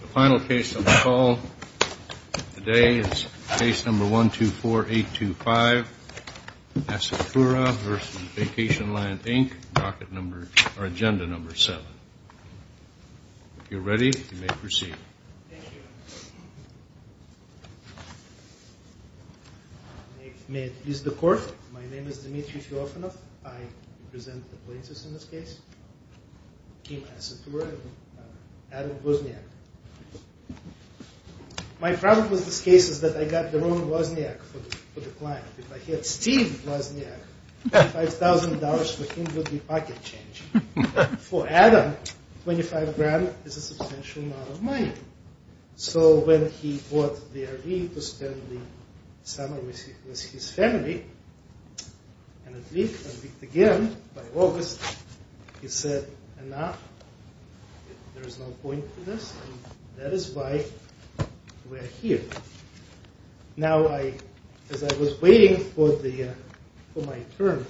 The final case of the call today is case number 124825, Assettura v. Vacationland, Inc., agenda number seven. If you're ready, you may proceed. Thank you. May it please the Court, my name is Dmitry Filofanov. I present the plaintiffs in this case, Kim Assettura and Adam Wozniak. My problem with this case is that I got the wrong Wozniak for the client. If I had Steve Wozniak, $5,000 for him would be pocket change. For Adam, $25,000 is a substantial amount of money. So when he bought the RV to spend the summer with his family, and a week, a week again, by August, he said, enough, there is no point in this, and that is why we're here. Now I, as I was waiting for the, for my turn,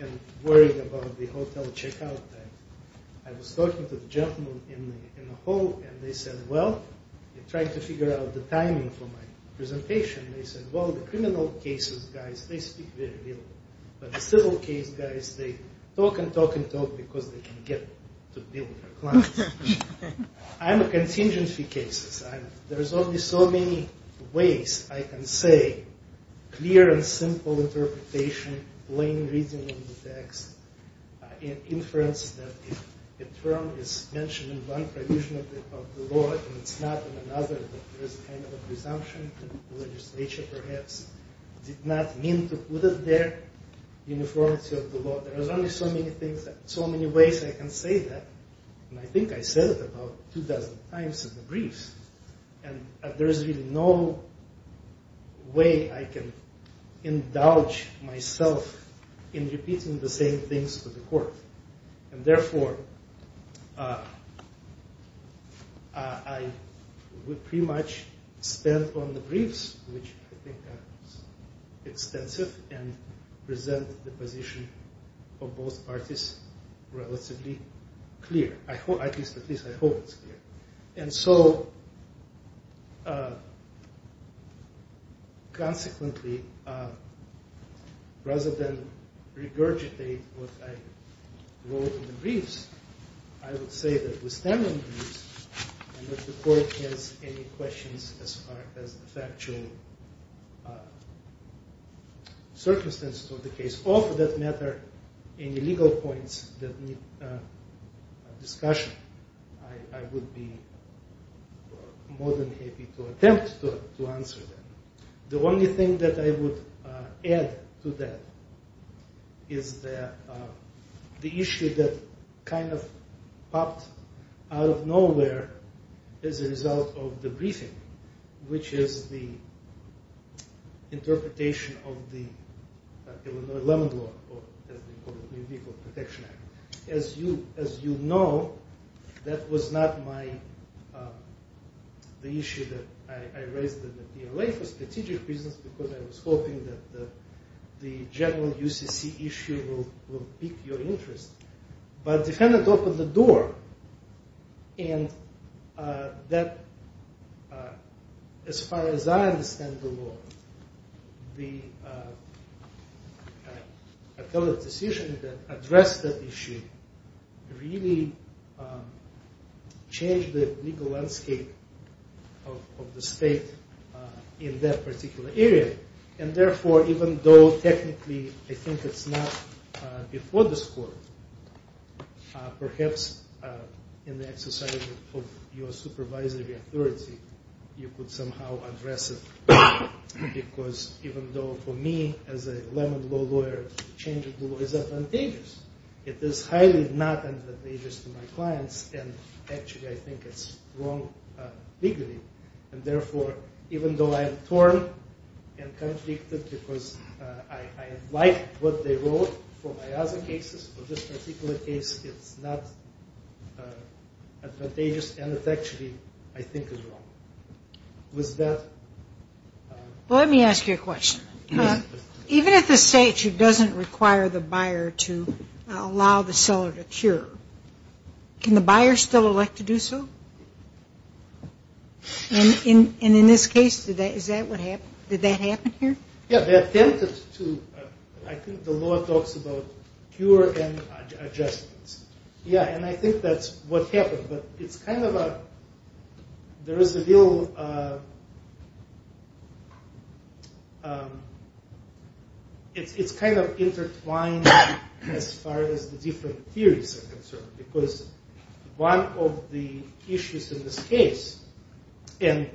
and worried about the hotel checkout, I was talking to the gentlemen in the hall, and they said, well, they're trying to figure out the timing for my presentation. They said, well, the criminal cases guys, they speak very little, but the civil case guys, they talk and talk and talk because they can get to deal with their clients. I'm a contingency case. There's only so many ways I can say clear and simple interpretation, plain reading of the text, inference that the term is mentioned in one provision of the law, and it's not in another. There is a kind of a presumption that the legislature perhaps did not mean to put it there, uniformity of the law. There is only so many things, so many ways I can say that, and I think I said it about two dozen times in the briefs, and there is really no way I can indulge myself in repeating the same things to the court, and therefore, I would pretty much spend on the briefs, which I think are extensive, and present the position of both parties relatively clear. At least I hope it's clear, and so consequently, rather than regurgitate what I wrote in the briefs, I would say that we stand on the briefs and that the court has any questions as far as the factual circumstances of the case. If it's of that matter, any legal points that need discussion, I would be more than happy to attempt to answer them. The only thing that I would add to that is the issue that kind of popped out of nowhere as a result of the briefing, which is the interpretation of the Illinois Lemon Law, or as they call it, the Equal Protection Act. As you know, that was not the issue that I raised in the PLA for strategic reasons, because I was hoping that the general UCC issue would pique your interest, but the defendant opened the door, and that, as far as I understand the law, the decision to address that issue really changed the legal landscape of the state in that particular area, and therefore, even though technically I think it's not before this court, perhaps in the exercise of your supervisory authority, you could somehow address it, because even though for me, as a Lemon Law lawyer, the change of the law is advantageous, it is highly not advantageous to my clients, and actually, I think it's wrong legally, and therefore, even though I am torn and conflicted because I like what they wrote for my other cases, for this particular case, it's not advantageous, and it actually, I think, is wrong. With that... Well, let me ask you a question. Even if the state doesn't require the buyer to allow the seller to cure, can the buyer still elect to do so? And in this case, is that what happened? Did that happen here? Yeah, they attempted to. I think the law talks about cure and adjustments. Yeah, and I think that's what happened, but it's kind of a... There is a real... It's kind of intertwined as far as the different theories are concerned, because one of the issues in this case, and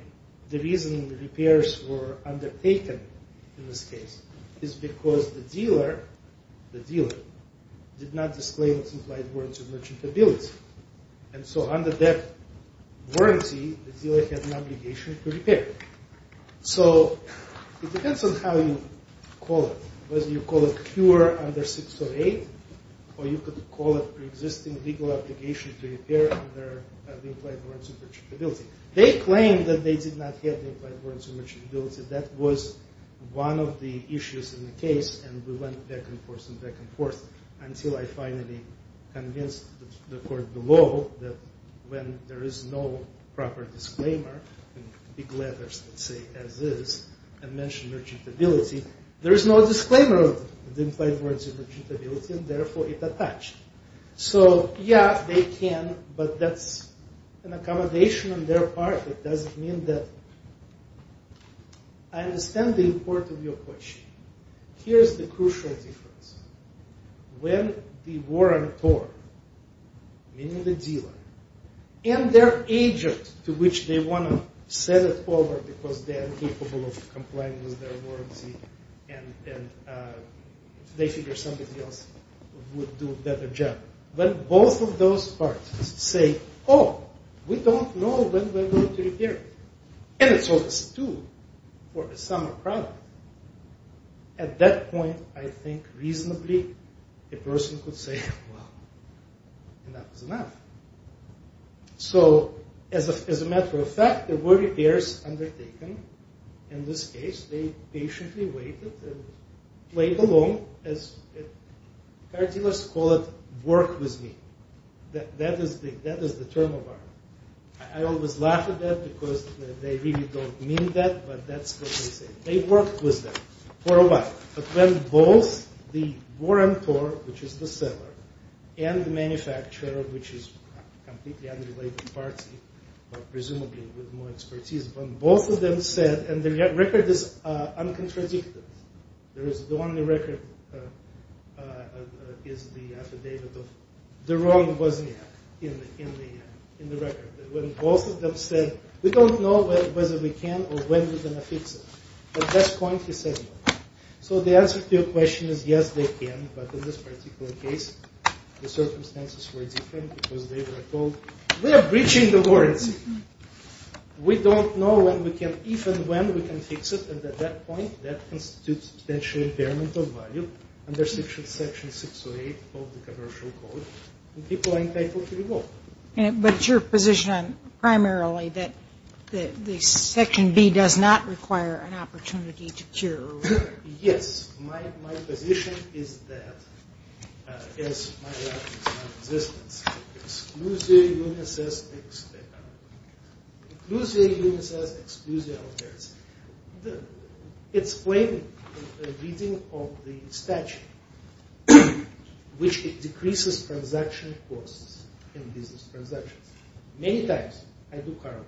the reason the repairs were undertaken in this case is because the dealer, the dealer, did not disclaim its implied warrants of merchantability, and so under that warranty, the dealer had an obligation to repair. So it depends on how you call it. Whether you call it cure under 608, or you could call it pre-existing legal obligation to repair under the implied warrants of merchantability. They claimed that they did not have the implied warrants of merchantability. That was one of the issues in the case, and we went back and forth and back and forth, until I finally convinced the court below that when there is no proper disclaimer, in big letters that say as is, and mention merchantability, there is no disclaimer of the implied warrants of merchantability, and therefore it attached. So yeah, they can, but that's an accommodation on their part. It doesn't mean that... I understand the importance of your question. Here's the crucial difference. When the warrantor, meaning the dealer, and their agent to which they want to send it over because they are incapable of complying with their warranty, and they figure somebody else would do a better job. When both of those parties say, oh, we don't know when we're going to repair it, and it's over two for a summer product, at that point I think reasonably a person could say, well, enough is enough. So as a matter of fact, there were repairs undertaken. In this case, they patiently waited and played along. As car dealers call it, work with me. That is the term of our... I always laugh at that because they really don't mean that, but that's what they say. They worked with them for a while. But when both the warrantor, which is the seller, and the manufacturer, which is a completely unrelated party, but presumably with more expertise, when both of them said, and the record is uncontradictive. The only record is the affidavit of the wrong was in the record. When both of them said, we don't know whether we can or when we're going to fix it, at that point he said no. So the answer to your question is, yes, they can, but in this particular case, the circumstances were different because they were told, we are breaching the warranty. We don't know when we can, even when we can fix it, and at that point, that constitutes potentially impairment of value under Section 608 of the Commercial Code, and people are entitled to revoke. But it's your position primarily that Section B does not require an opportunity to cure? Yes. My position is that, as my life is non-existent, exclusio unis est exclusio alteris. It's framed in the reading of the statute, which decreases transaction costs in business transactions. Many times I do car work.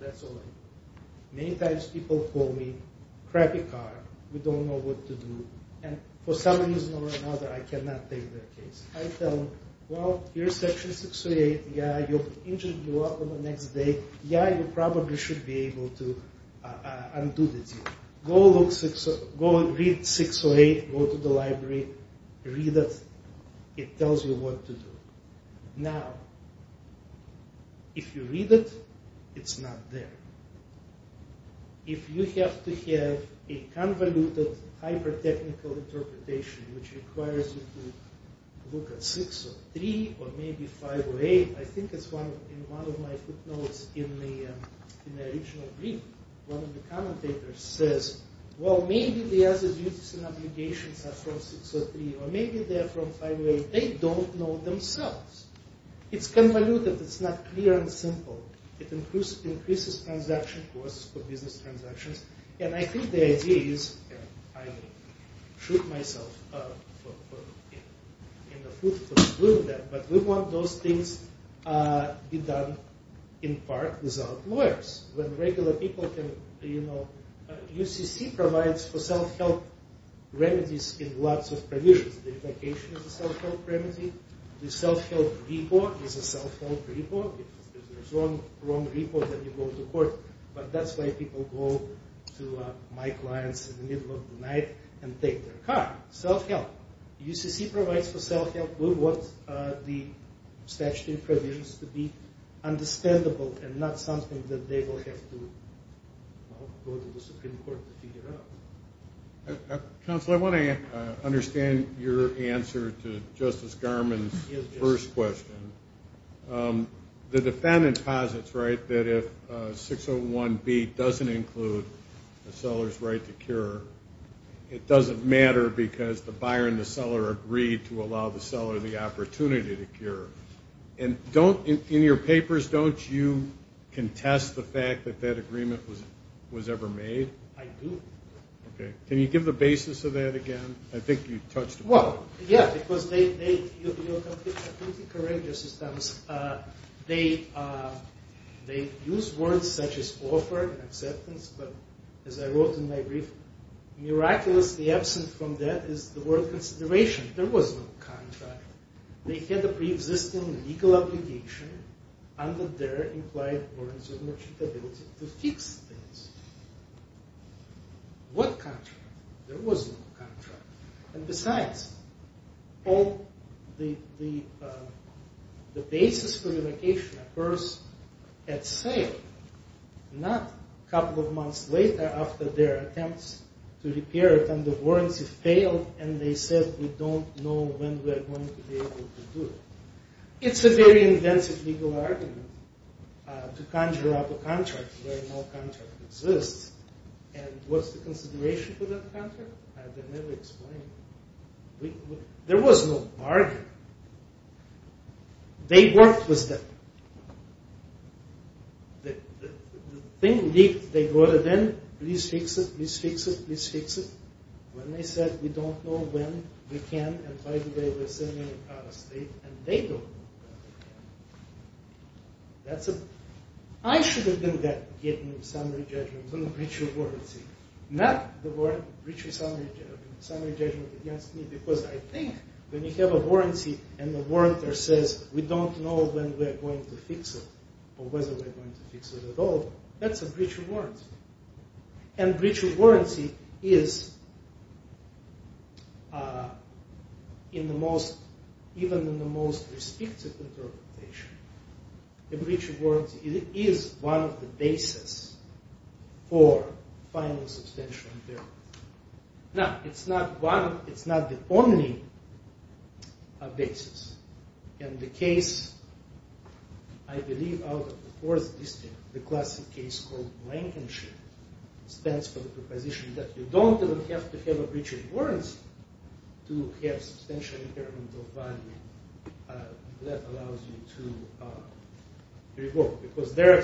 That's all I do. Many times people call me, crappy car, we don't know what to do, and for some reason or another, I cannot take their case. I tell them, well, here's Section 608. Yeah, it will injure you up the next day. Yeah, you probably should be able to undo this. Go read 608, go to the library, read it. It tells you what to do. Now, if you read it, it's not there. If you have to have a convoluted, hyper-technical interpretation, which requires you to look at 603 or maybe 508, I think it's in one of my footnotes in the original brief, one of the commentators says, well, maybe the other duties and obligations are from 603, or maybe they're from 508. They don't know themselves. It's convoluted. It's not clear and simple. It increases transaction costs for business transactions, and I think the idea is, and I shoot myself in the foot for doing that, but we want those things to be done in part without lawyers. When regular people can, you know, UCC provides for self-help remedies in lots of provisions. The vacation is a self-help remedy. The self-help repo is a self-help repo. If there's a wrong repo, then you go to court, but that's why people go to my clients in the middle of the night and take their car. Self-help. UCC provides for self-help. We want the statutory provisions to be understandable and not something that they will have to go to the Supreme Court to figure out. Counsel, I want to understand your answer to Justice Garmon's first question. The defendant posits, right, that if 601B doesn't include the seller's right to cure, it doesn't matter because the buyer and the seller agreed to allow the seller the opportunity to cure. And in your papers, don't you contest the fact that that agreement was ever made? I do. Okay. Can you give the basis of that again? I think you touched upon it. Well, yeah, because they use words such as offer and acceptance, but as I wrote in my brief, miraculously absent from that is the word consideration. There was no contract. They had a preexisting legal obligation under their implied warrants of merchantability to fix things. What contract? There was no contract. And besides, the basis for the location occurs at sale, not a couple of months later after their attempts to repair it under warrants have failed and they said we don't know when we are going to be able to do it. It's a very invasive legal argument to conjure up a contract where no contract exists. And what's the consideration for that contract? I've never explained it. There was no bargain. They worked with them. The thing leaked, they brought it in, please fix it, please fix it, please fix it. When they said we don't know when we can, and by the way, we're sending it out of state, and they don't know when they can. I should have been getting summary judgments on the breach of warranty, not the breach of summary judgment against me, because I think when you have a warranty and the warrant there says we don't know when we're going to fix it or whether we're going to fix it at all, that's a breach of warranty. And breach of warranty is in the most, even in the most restrictive interpretation, a breach of warranty is one of the basis for final substantial impairment. Now, it's not one, it's not the only basis. And the case, I believe, out of the fourth district, the classic case called Rankinship, stands for the proposition that you don't even have to have a breach of warranty to have substantial impairment of value. That allows you to revoke, because their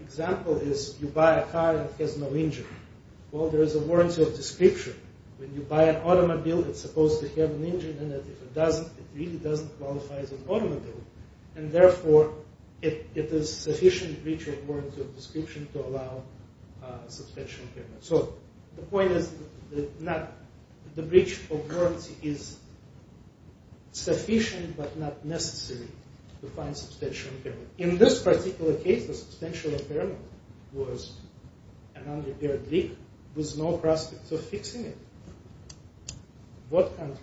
example is you buy a car that has no engine. Well, there is a warranty of description. When you buy an automobile, it's supposed to have an engine in it. If it doesn't, it really doesn't qualify as an automobile. And therefore, it is sufficient breach of warranty of description to allow substantial impairment. So the point is that the breach of warranty is sufficient but not necessary to find substantial impairment. In this particular case, the substantial impairment was an unrepaired leak with no prospect of fixing it. What answer?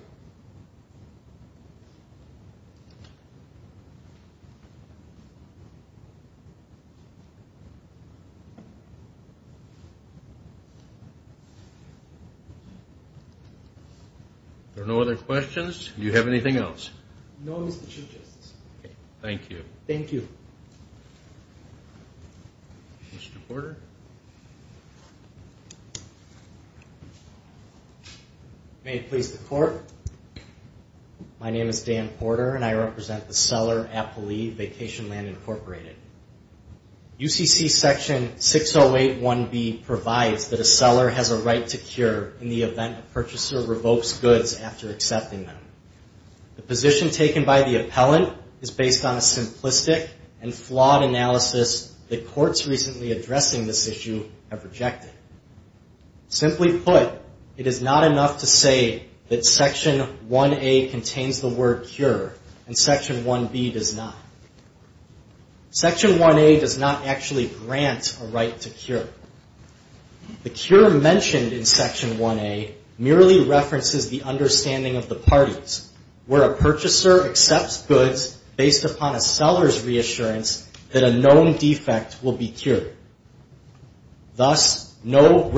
There are no other questions? Do you have anything else? No, Mr. Chief Justice. Thank you. Thank you. Mr. Porter? May it please the Court. My name is Dan Porter, and I represent the seller, Appli, Vacationland Incorporated. UCC Section 608.1b provides that a seller has a right to cure in the event a purchaser revokes goods after accepting them. The position taken by the appellant is based on a simplistic and flawed analysis that courts recently addressing this issue have rejected. Simply put, it is not enough to say that Section 1A contains the word cure and Section 1B does not. Section 1A does not actually grant a right to cure. The cure mentioned in Section 1A merely references the understanding of the parties where a purchaser accepts goods based upon a seller's reassurance that a known defect will be cured. Thus, the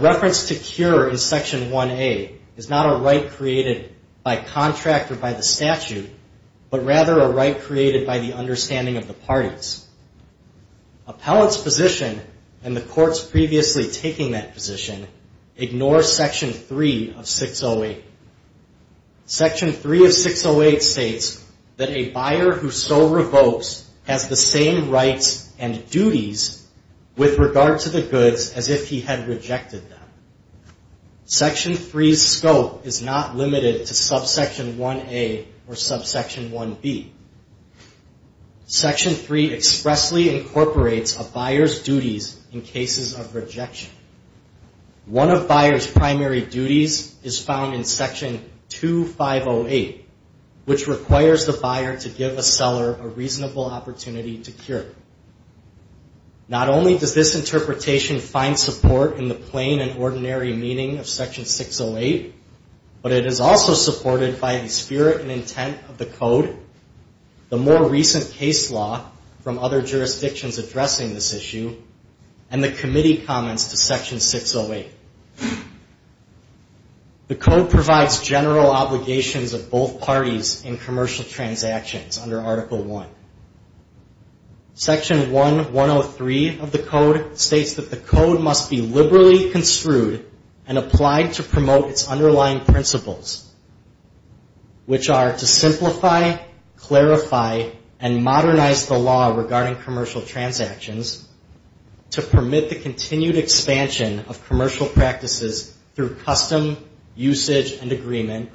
reference to cure in Section 1A is not a right created by contract or by the statute, but rather a right created by the understanding of the parties. Appellant's position and the court's previously taking that position ignore Section 3 of 608. Section 3 of 608 states that a buyer who so revokes has the same rights and duties with regard to the goods as if he had rejected them. Section 3's scope is not limited to Subsection 1A or Subsection 1B. Section 3 expressly incorporates a buyer's duties in cases of rejection. One of buyer's primary duties is found in Section 2508, which requires the buyer to give a seller a reasonable opportunity to cure. Not only does this interpretation find support in the plain and ordinary meaning of Section 608, but it is also supported by the spirit and intent of the code, the more recent case law from other jurisdictions addressing this issue, and the committee comments to Section 608. The code provides general obligations of both parties in commercial transactions under Article I. Section 1103 of the code states that the code must be liberally construed and applied to promote its underlying principles, which are to simplify, clarify, and modernize the law regarding commercial transactions to permit the continued expansion of commercial practices through custom, usage, and agreement,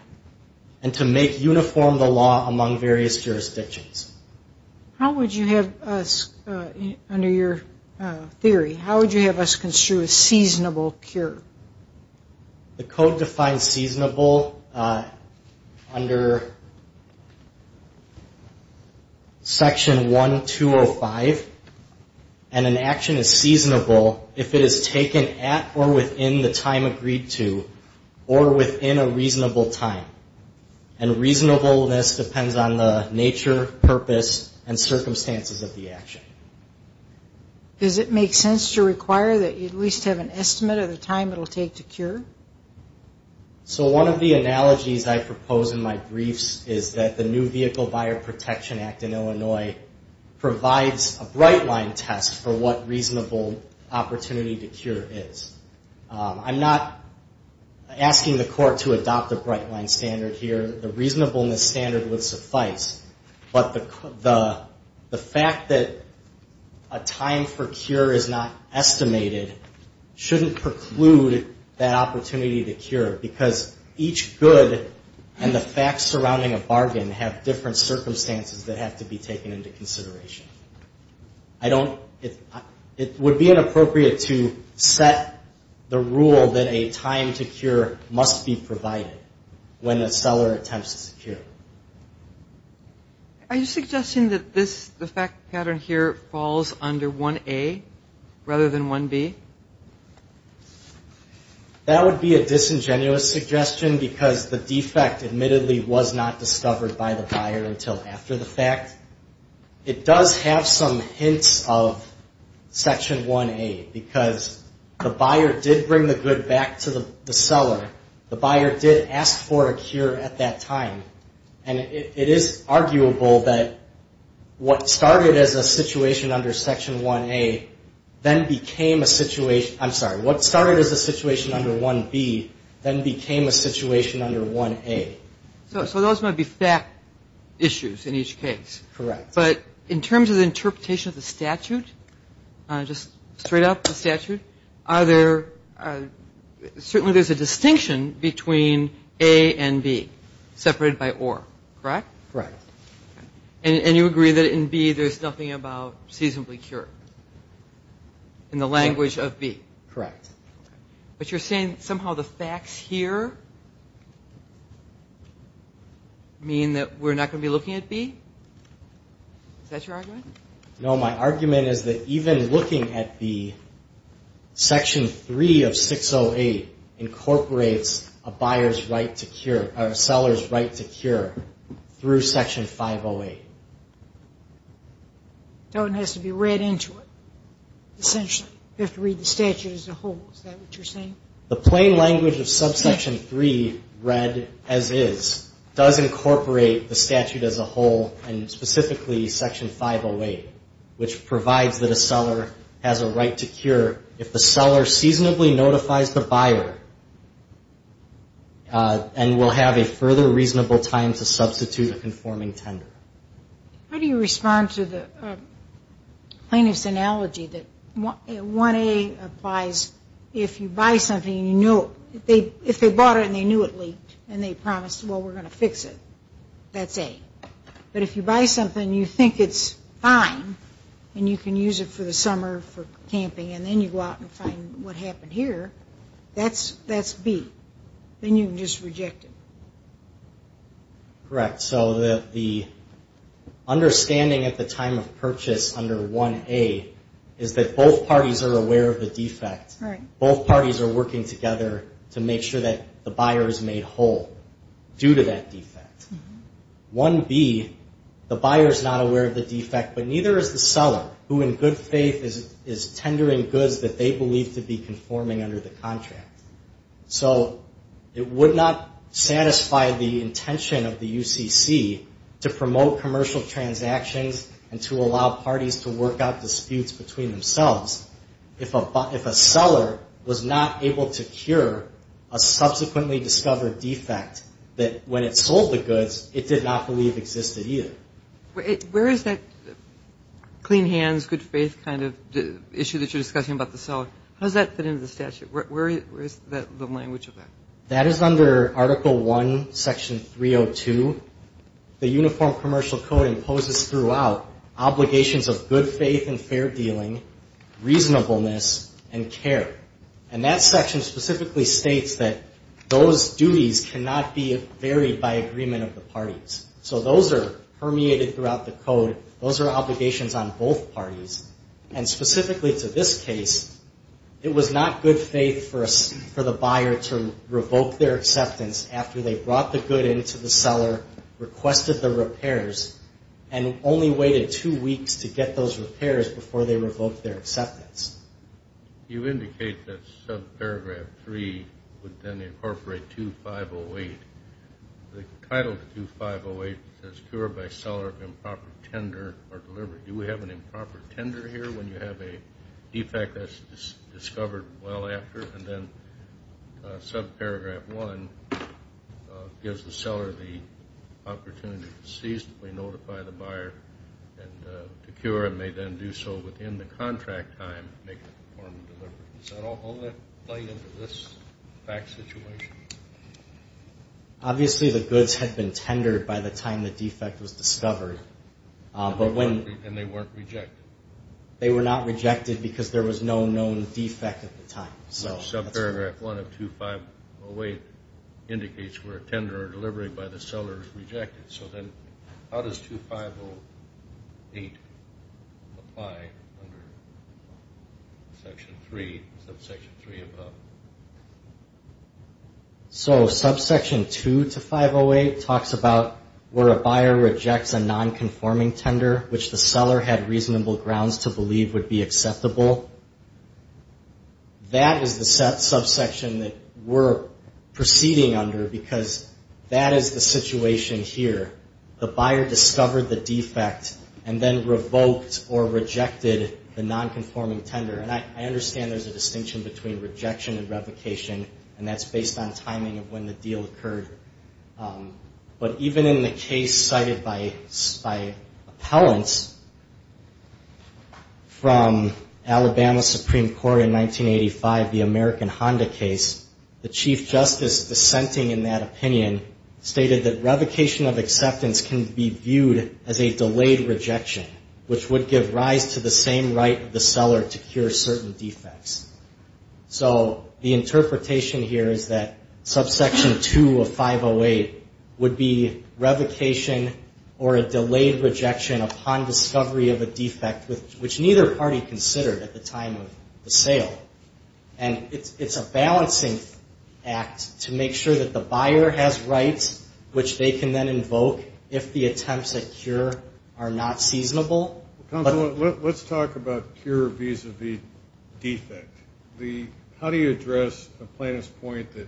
and to make uniform the law among various jurisdictions. How would you have us, under your theory, how would you have us construe a seasonable cure? The code defines seasonable under Section 1205, and an action is seasonable if it is taken at or within the time agreed to, or within a reasonable time. And reasonableness depends on the nature, purpose, and circumstances of the action. Does it make sense to require that you at least have an estimate of the time it will take to cure? So one of the analogies I propose in my briefs is that the New Vehicle Buyer Protection Act in Illinois provides a bright-line test for what reasonable opportunity to cure is. I'm not asking the court to adopt a bright-line standard here. The reasonableness standard would suffice, but the fact that a time for cure is not estimated shouldn't preclude that opportunity to cure, because each good and the facts surrounding a bargain have different circumstances that have to be taken into consideration. It would be inappropriate to set the rule that a time to cure must be provided when a seller attempts to cure. Are you suggesting that the fact pattern here falls under 1A rather than 1B? That would be a disingenuous suggestion, because the defect admittedly was not discovered by the buyer until after the fact. It does have some hints of Section 1A, because the buyer did bring the good back to the seller. The buyer did ask for a cure at that time. And it is arguable that what started as a situation under Section 1A then became a situation under 1A. So those might be fact issues in each case. Correct. But in terms of the interpretation of the statute, just straight up the statute, certainly there's a distinction between A and B, separated by or. Correct? Correct. And you agree that in B there's nothing about seasonably cured in the language of B? Correct. But you're saying somehow the facts here mean that we're not going to be looking at B? Is that your argument? No, my argument is that even looking at B, It doesn't have to be read into it, essentially. You have to read the statute as a whole. Is that what you're saying? The plain language of Subsection 3, read as is, does incorporate the statute as a whole and specifically Section 508, which provides that a seller has a right to cure if the seller seasonably notifies the buyer and will have a further reasonable time to substitute a conforming tender. How do you respond to the plaintiff's analogy that 1A applies if you buy something and you know, if they bought it and they knew it leaked and they promised, well, we're going to fix it, that's A. But if you buy something and you think it's fine and you can use it for the summer for camping and then you go out and find what happened here, that's B. Then you can just reject it. Correct. So the understanding at the time of purchase under 1A is that both parties are aware of the defect. Both parties are working together to make sure that the buyer is made whole due to that defect. 1B, the buyer is not aware of the defect, but neither is the seller who in good faith is tendering goods that they believe to be conforming under the contract. So it would not satisfy the intention of the UCC to promote commercial transactions and to allow parties to work out disputes between themselves if a seller was not able to cure a subsequently discovered defect that when it sold the goods it did not believe existed either. Where is that clean hands, good faith kind of issue that you're discussing about the seller? How does that fit into the statute? Where is the language of that? That is under Article I, Section 302. The Uniform Commercial Code imposes throughout obligations of good faith and fair dealing, reasonableness, and care. And that section specifically states that those duties cannot be varied by agreement of the parties. So those are permeated throughout the code. Those are obligations on both parties. And specifically to this case, it was not good faith for the buyer to revoke their acceptance after they brought the good into the seller, requested the repairs, and only waited two weeks to get those repairs before they revoked their acceptance. You indicate that subparagraph 3 would then incorporate 2508. The title of 2508 is cured by seller of improper tender or delivery. Do we have an improper tender here when you have a defect that's discovered well after? And then subparagraph 1 gives the seller the opportunity to seasonably notify the buyer to cure and may then do so within the contract time to make the form of delivery. Does that all fall into this fact situation? Obviously the goods had been tendered by the time the defect was discovered. And they weren't rejected. They were not rejected because there was no known defect at the time. Subparagraph 1 of 2508 indicates where tender or delivery by the seller is rejected. So then how does 2508 apply under subsection 3 above? So subsection 2 to 508 talks about where a buyer rejects a nonconforming tender, which the seller had reasonable grounds to believe would be acceptable. That is the subsection that we're proceeding under because that is the situation here. The buyer discovered the defect and then revoked or rejected the nonconforming tender. And I understand there's a distinction between rejection and revocation, and that's based on timing of when the deal occurred. But even in the case cited by appellants from Alabama Supreme Court in 1985, the American Honda case, the chief justice dissenting in that opinion stated that revocation of acceptance can be viewed as a delayed rejection, which would give rise to the same right of the seller to cure certain defects. So the interpretation here is that subsection 2 of 508 would be revocation or a delayed rejection upon discovery of a defect, which neither party considered at the time of the sale. And it's a balancing act to make sure that the buyer has rights, which they can then invoke if the attempts at cure are not seasonable. Let's talk about cure vis-a-vis defect. How do you address the plaintiff's point that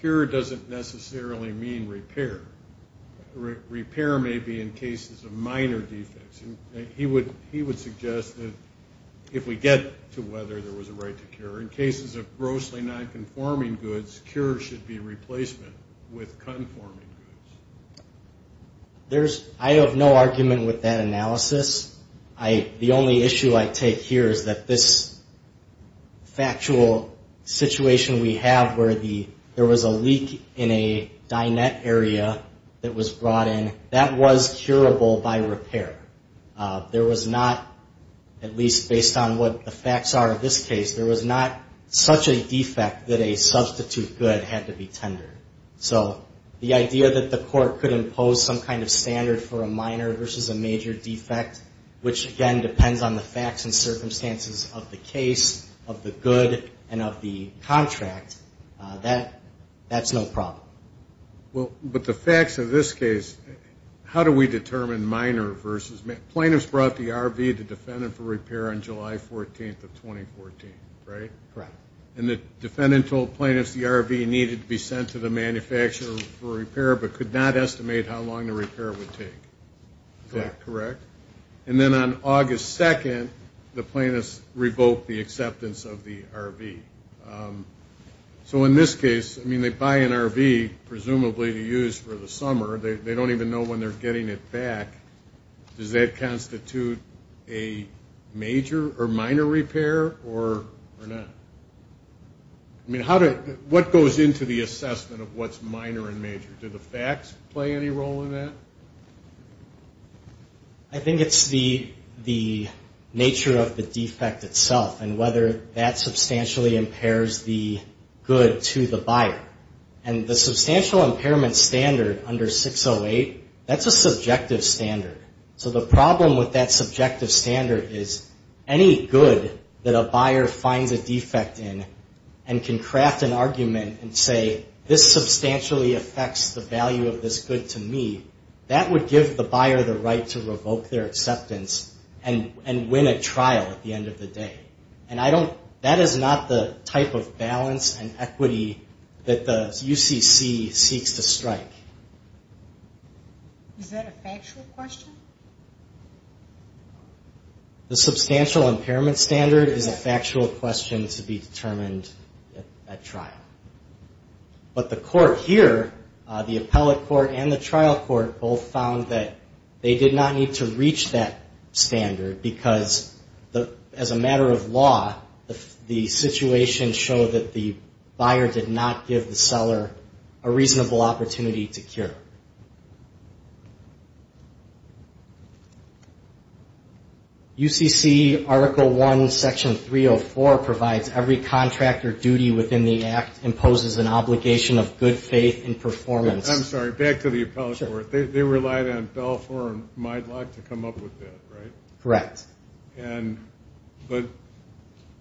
cure doesn't necessarily mean repair? Repair may be in cases of minor defects. He would suggest that if we get to whether there was a right to cure, in cases of grossly nonconforming goods, cure should be replacement with conforming goods. I have no argument with that analysis. The only issue I take here is that this factual situation we have, where there was a leak in a dinette area that was brought in, that was curable by repair. There was not, at least based on what the facts are of this case, there was not such a defect that a substitute good had to be tendered. So the idea that the court could impose some kind of standard for a minor versus a major defect, which, again, depends on the facts and circumstances of the case, of the good, and of the contract, that's no problem. Well, but the facts of this case, how do we determine minor versus major? Plaintiffs brought the RV to defendant for repair on July 14th of 2014, right? Correct. And the defendant told plaintiffs the RV needed to be sent to the manufacturer for repair but could not estimate how long the repair would take. Is that correct? And then on August 2nd, the plaintiffs revoked the acceptance of the RV. So in this case, I mean, they buy an RV presumably to use for the summer. They don't even know when they're getting it back. Does that constitute a major or minor repair or not? I mean, what goes into the assessment of what's minor and major? Do the facts play any role in that? I think it's the nature of the defect itself and whether that substantially impairs the good to the buyer. And the substantial impairment standard under 608, that's a subjective standard. So the problem with that subjective standard is any good that a buyer finds a defect in and can craft an argument and say, this substantially affects the value of this good to me, that would give the buyer the right to revoke their acceptance and win a trial at the end of the day. And that is not the type of balance and equity that the UCC seeks to strike. Is that a factual question? The substantial impairment standard is a factual question to be determined at trial. But the court here, the appellate court and the trial court, both found that they did not need to reach that standard because as a matter of law, the situation showed that the buyer did not give the seller a reasonable opportunity to cure. Thank you. UCC Article 1, Section 304 provides every contractor duty within the Act imposes an obligation of good faith and performance. I'm sorry, back to the appellate court. They relied on Belfour and Mylock to come up with that, right? Correct. But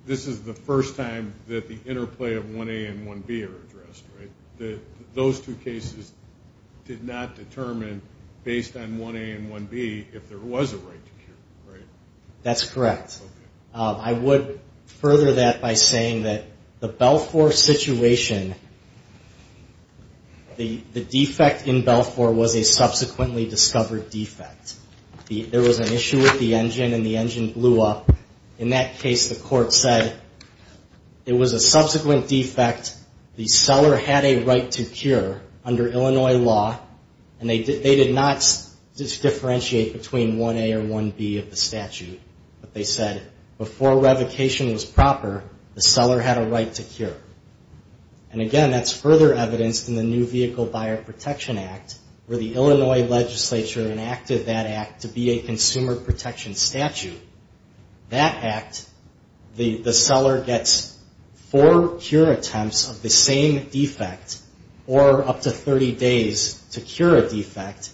this is the first time that the interplay of 1A and 1B are addressed, right? Those two cases did not determine, based on 1A and 1B, if there was a right to cure, right? That's correct. I would further that by saying that the Belfour situation, the defect in Belfour was a subsequently discovered defect. There was an issue with the engine and the engine blew up. In that case, the court said it was a subsequent defect. The seller had a right to cure under Illinois law, and they did not differentiate between 1A or 1B of the statute, but they said before revocation was proper, the seller had a right to cure. Again, that's further evidenced in the New Vehicle Buyer Protection Act where the Illinois legislature enacted that act to be a consumer protection statute. That act, the seller gets four cure attempts of the same defect or up to 30 days to cure a defect,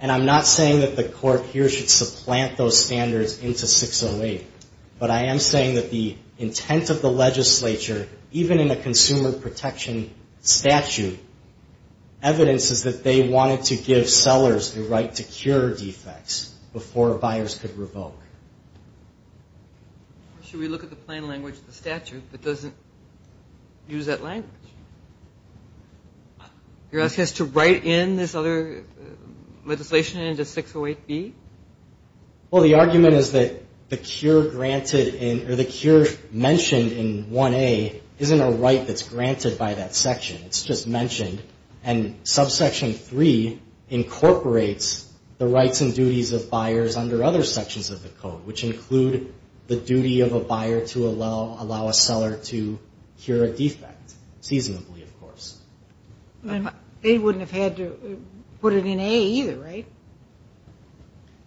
and I'm not saying that the court here should supplant those standards into 608, but I am saying that the intent of the legislature, even in a consumer protection statute, evidence is that they wanted to give sellers the right to cure defects before buyers could revoke. Should we look at the plain language of the statute that doesn't use that language? You're asking us to write in this other legislation into 608B? Well, the argument is that the cure granted in or the cure mentioned in 1A isn't a right that's granted by that section. It's just mentioned, and subsection 3 incorporates the rights and duties of buyers under other sections of the code, which include the duty of a buyer to allow a seller to cure a defect, seasonably, of course. They wouldn't have had to put it in A either, right?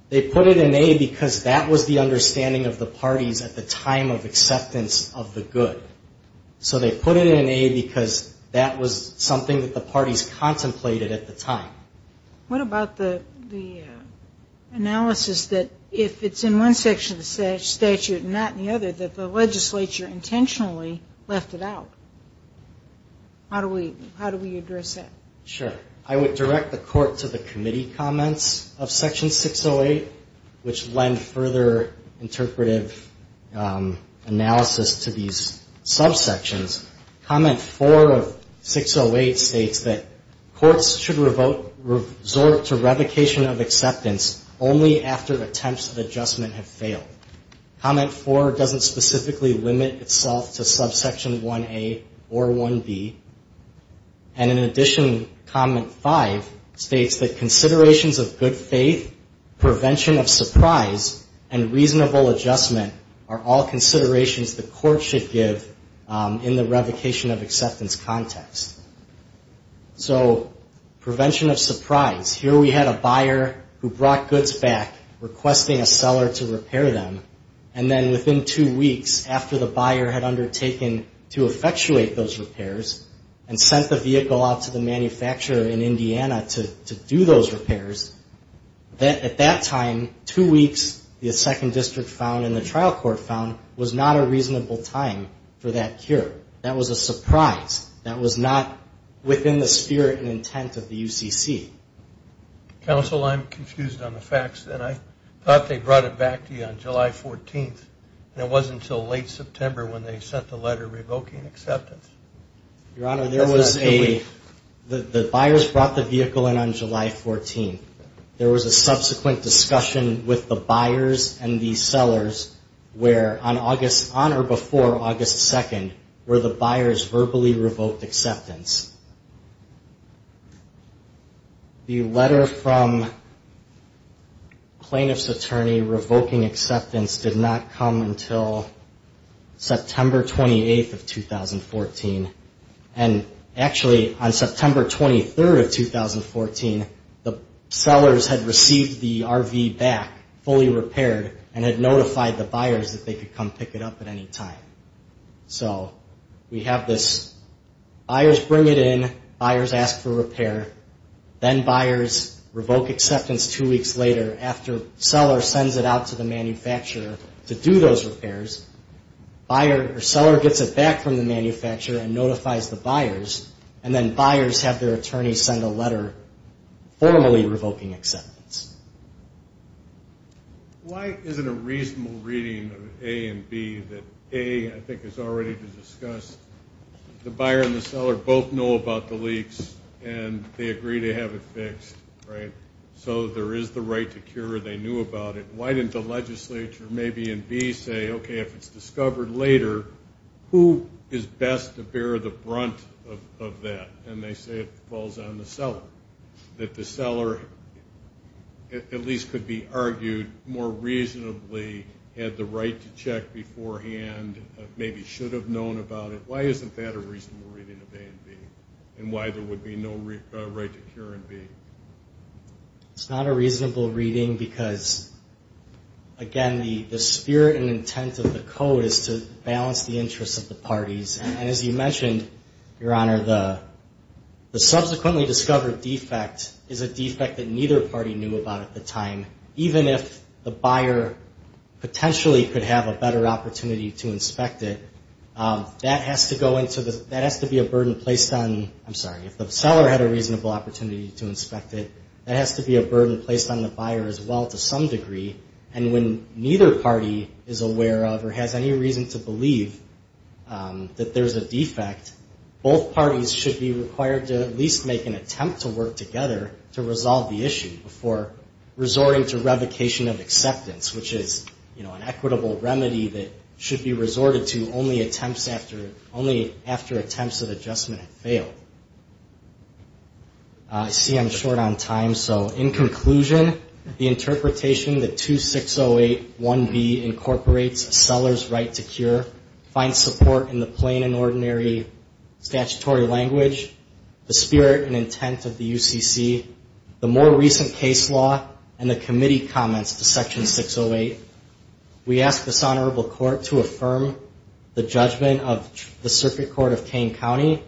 They put it in A because that was the understanding of the parties at the time of acceptance of the good. So they put it in A because that was something that the parties contemplated at the time. What about the analysis that if it's in one section of the statute and not in the other, that the legislature intentionally left it out? How do we address that? Sure. I would direct the court to the committee comments of section 608, which lend further interpretive analysis to these subsections. Comment 4 of 608 states that courts should resort to revocation of acceptance only after attempts at adjustment have failed. Comment 4 doesn't specifically limit itself to subsection 1A or 1B. And in addition, comment 5 states that considerations of good faith, prevention of surprise, and reasonable adjustment are all considerations the court should give in the revocation of acceptance context. So prevention of surprise. Here we had a buyer who brought goods back requesting a seller to repair them, and then within two weeks after the buyer had undertaken to effectuate those repairs and sent the vehicle out to the manufacturer in Indiana to do those repairs, at that time, two weeks the second district found and the trial court found was not a reasonable time for that cure. That was a surprise. That was not within the spirit and intent of the UCC. Counsel, I'm confused on the facts, and I thought they brought it back to you on July 14th, and it wasn't until late September when they sent the letter revoking acceptance. Your Honor, there was a... The buyers brought the vehicle in on July 14th. There was a subsequent discussion with the buyers and the sellers where on or before August 2nd were the buyers verbally revoked acceptance. The letter from plaintiff's attorney revoking acceptance did not come until September 28th of 2014, and actually on September 23rd of 2014, the sellers had received the RV back fully repaired and had notified the buyers that they could come pick it up at any time. So we have this buyers bring it in, buyers ask for repair, then buyers revoke acceptance two weeks later after seller sends it out to the manufacturer to do those repairs. Seller gets it back from the manufacturer and notifies the buyers, and then buyers have their attorney send a letter formally revoking acceptance. Why isn't a reasonable reading of A and B that A, I think, is already to discuss? The buyer and the seller both know about the leaks, and they agree to have it fixed, right? So there is the right to cure, they knew about it. Why didn't the legislature maybe in B say, okay, if it's discovered later, who is best to bear the brunt of that? And they say it falls on the seller, that the seller at least could be argued more reasonably had the right to check beforehand, maybe should have known about it. Why isn't that a reasonable reading of A and B, and why there would be no right to cure in B? It's not a reasonable reading because, again, the spirit and intent of the code is to balance the interests of the parties. And as you mentioned, Your Honor, the subsequently discovered defect is a defect that neither party knew about at the time. Even if the buyer potentially could have a better opportunity to inspect it, that has to be a burden placed on, I'm sorry, if the seller had a reasonable opportunity to inspect it, that has to be a burden placed on the buyer as well to some degree. And when neither party is aware of or has any reason to believe that there's a defect, both parties should be required to at least make an attempt to work together to resolve the issue before resorting to revocation of acceptance, which is an equitable remedy that should be resorted to only after attempts at adjustment have failed. I see I'm short on time, so in conclusion, the interpretation that 2608.1b incorporates a seller's right to cure, finds support in the plain and ordinary statutory language, the spirit and intent of the UCC, the more recent case law, and the committee comments to Section 608. We ask this Honorable Court to affirm the judgment of the Circuit Court of the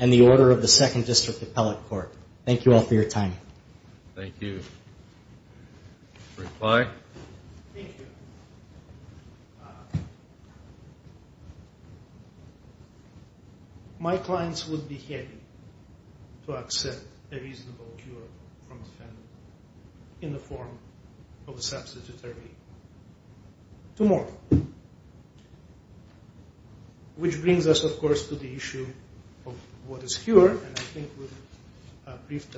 Member of the Second District Appellate Court. Thank you all for your time. Thank you. Reply. Thank you. My clients would be happy to accept a reasonable cure from the family in the form of a substitutory to more, which brings us, of course, to the issue of what is cure, and I think we've briefed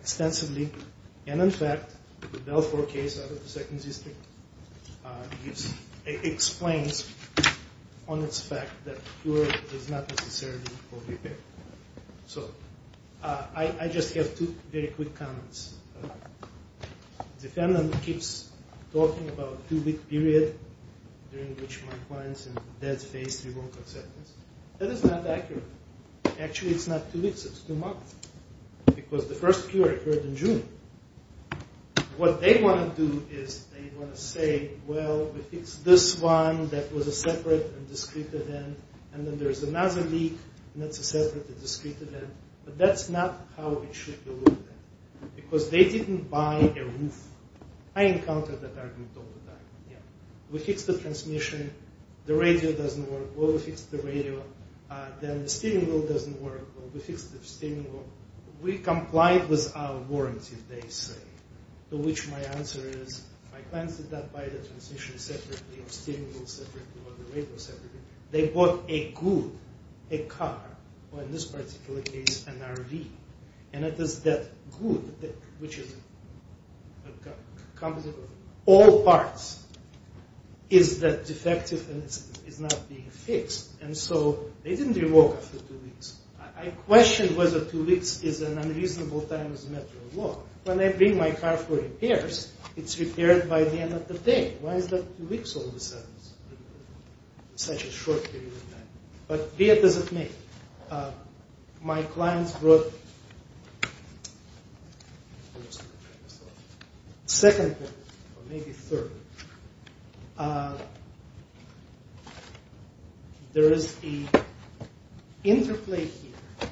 extensively. And in fact, the Bell IV case out of the Second District explains on its fact that cure is not necessarily what we pick. So I just have two very quick comments. The defendant keeps talking about a two-week period during which my clients in the dead phase three won't accept this. That is not accurate. Actually, it's not two weeks, it's two months, because the first cure occurred in June. What they want to do is they want to say, well, we fixed this one that was a separate and discrete event, and then there's another leak, and that's a separate and discrete event. But that's not how it should be looked at, because they didn't buy a roof. I encounter that argument all the time. We fixed the transmission. The radio doesn't work. Well, we fixed the radio. Then the steering wheel doesn't work. Well, we fixed the steering wheel. We complied with our warranty, they say, to which my answer is my clients did not buy the transmission separately or steering wheel separately or the radio separately. They bought a good, a car, or in this particular case, an RV, and it is that good, which is a composite of all parts, is that defective, and it's not being fixed. And so they didn't revoke it for two weeks. I question whether two weeks is an unreasonable time as a matter of law. When I bring my car for repairs, it's repaired by the end of the day. Why is that two weeks all of a sudden? It's such a short period of time. But where does it make? My clients wrote second or maybe third. There is a interplay here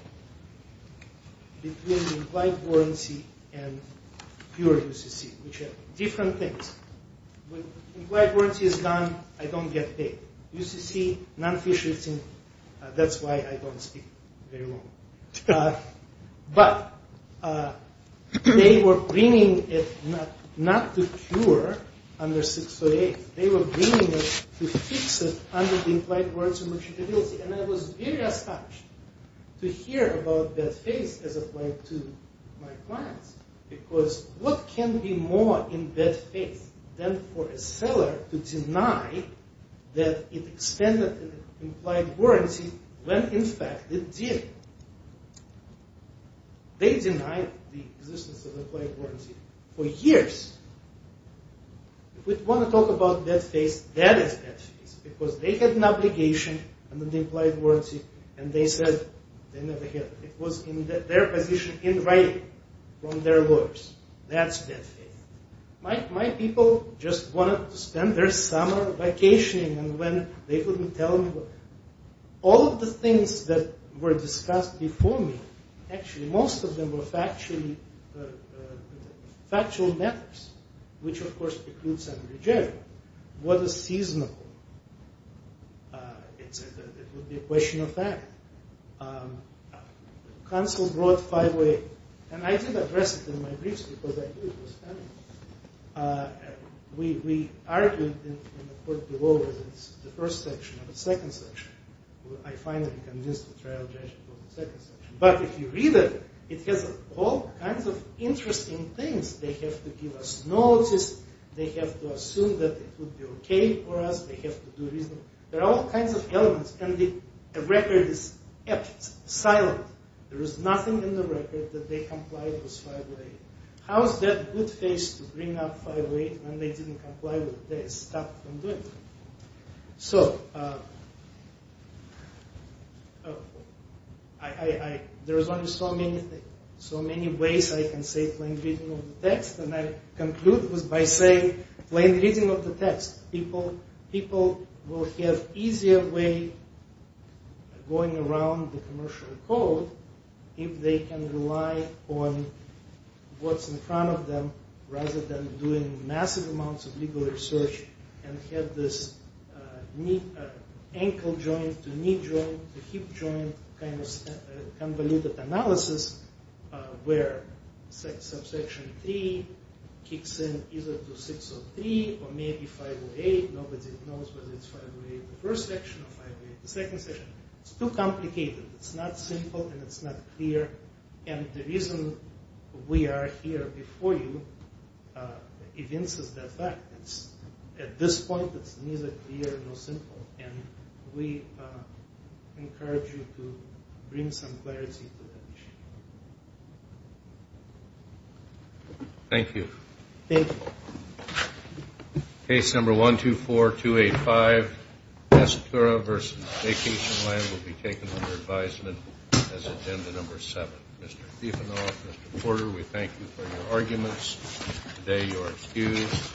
between the implied warranty and pure UCC, which are different things. When implied warranty is done, I don't get paid. UCC, non-fish eating, that's why I don't speak very well. But they were bringing it not to cure under 608. They were bringing it to fix it under the implied warranty and warranty. And I was very astonished to hear about that face as applied to my clients because what can be more in that face than for a seller to deny that it extended the implied warranty when, in fact, it did? They denied the existence of the implied warranty for years. If we want to talk about that face, that is that face because they had an obligation under the implied warranty, and they said they never had it. It was in their position in writing from their lawyers. That's that face. My people just wanted to spend their summer vacationing and when they couldn't tell me what. All of the things that were discussed before me, actually, most of them were factual methods, which, of course, precludes every judgment. What is seasonable? It would be a question of fact. Counsel brought five-way, and I did address it in my briefs because I knew it was coming. We argued in the court below that it's the first section of the second section. I finally convinced the trial judge to go to the second section. But if you read it, it has all kinds of interesting things. They have to give us notice. They have to assume that it would be okay for us. They have to do reasonable. There are all kinds of elements, and the record is silent. There is nothing in the record that they complied with five-way. How is that good face to bring up five-way when they didn't comply with it? They stopped from doing it. There are so many ways I can say plain reading of the text, and I conclude by saying plain reading of the text. People will have easier way going around the commercial code if they can rely on what's in front of them rather than doing massive amounts of legal research and have this ankle joint to knee joint to hip joint kind of convoluted analysis where subsection three kicks in either to 603 or maybe 508. Nobody knows whether it's five-way in the first section or five-way in the second section. It's too complicated. It's not simple, and it's not clear. And the reason we are here before you evinces that fact. At this point, it's neither clear nor simple, and we encourage you to bring some clarity to that issue. Thank you. Thank you. Case number 124285, Esoterra v. Vacationland, will be taken under advisement as agenda number seven. Mr. Stiefvanoff, Mr. Porter, we thank you for your arguments. Today you are excused.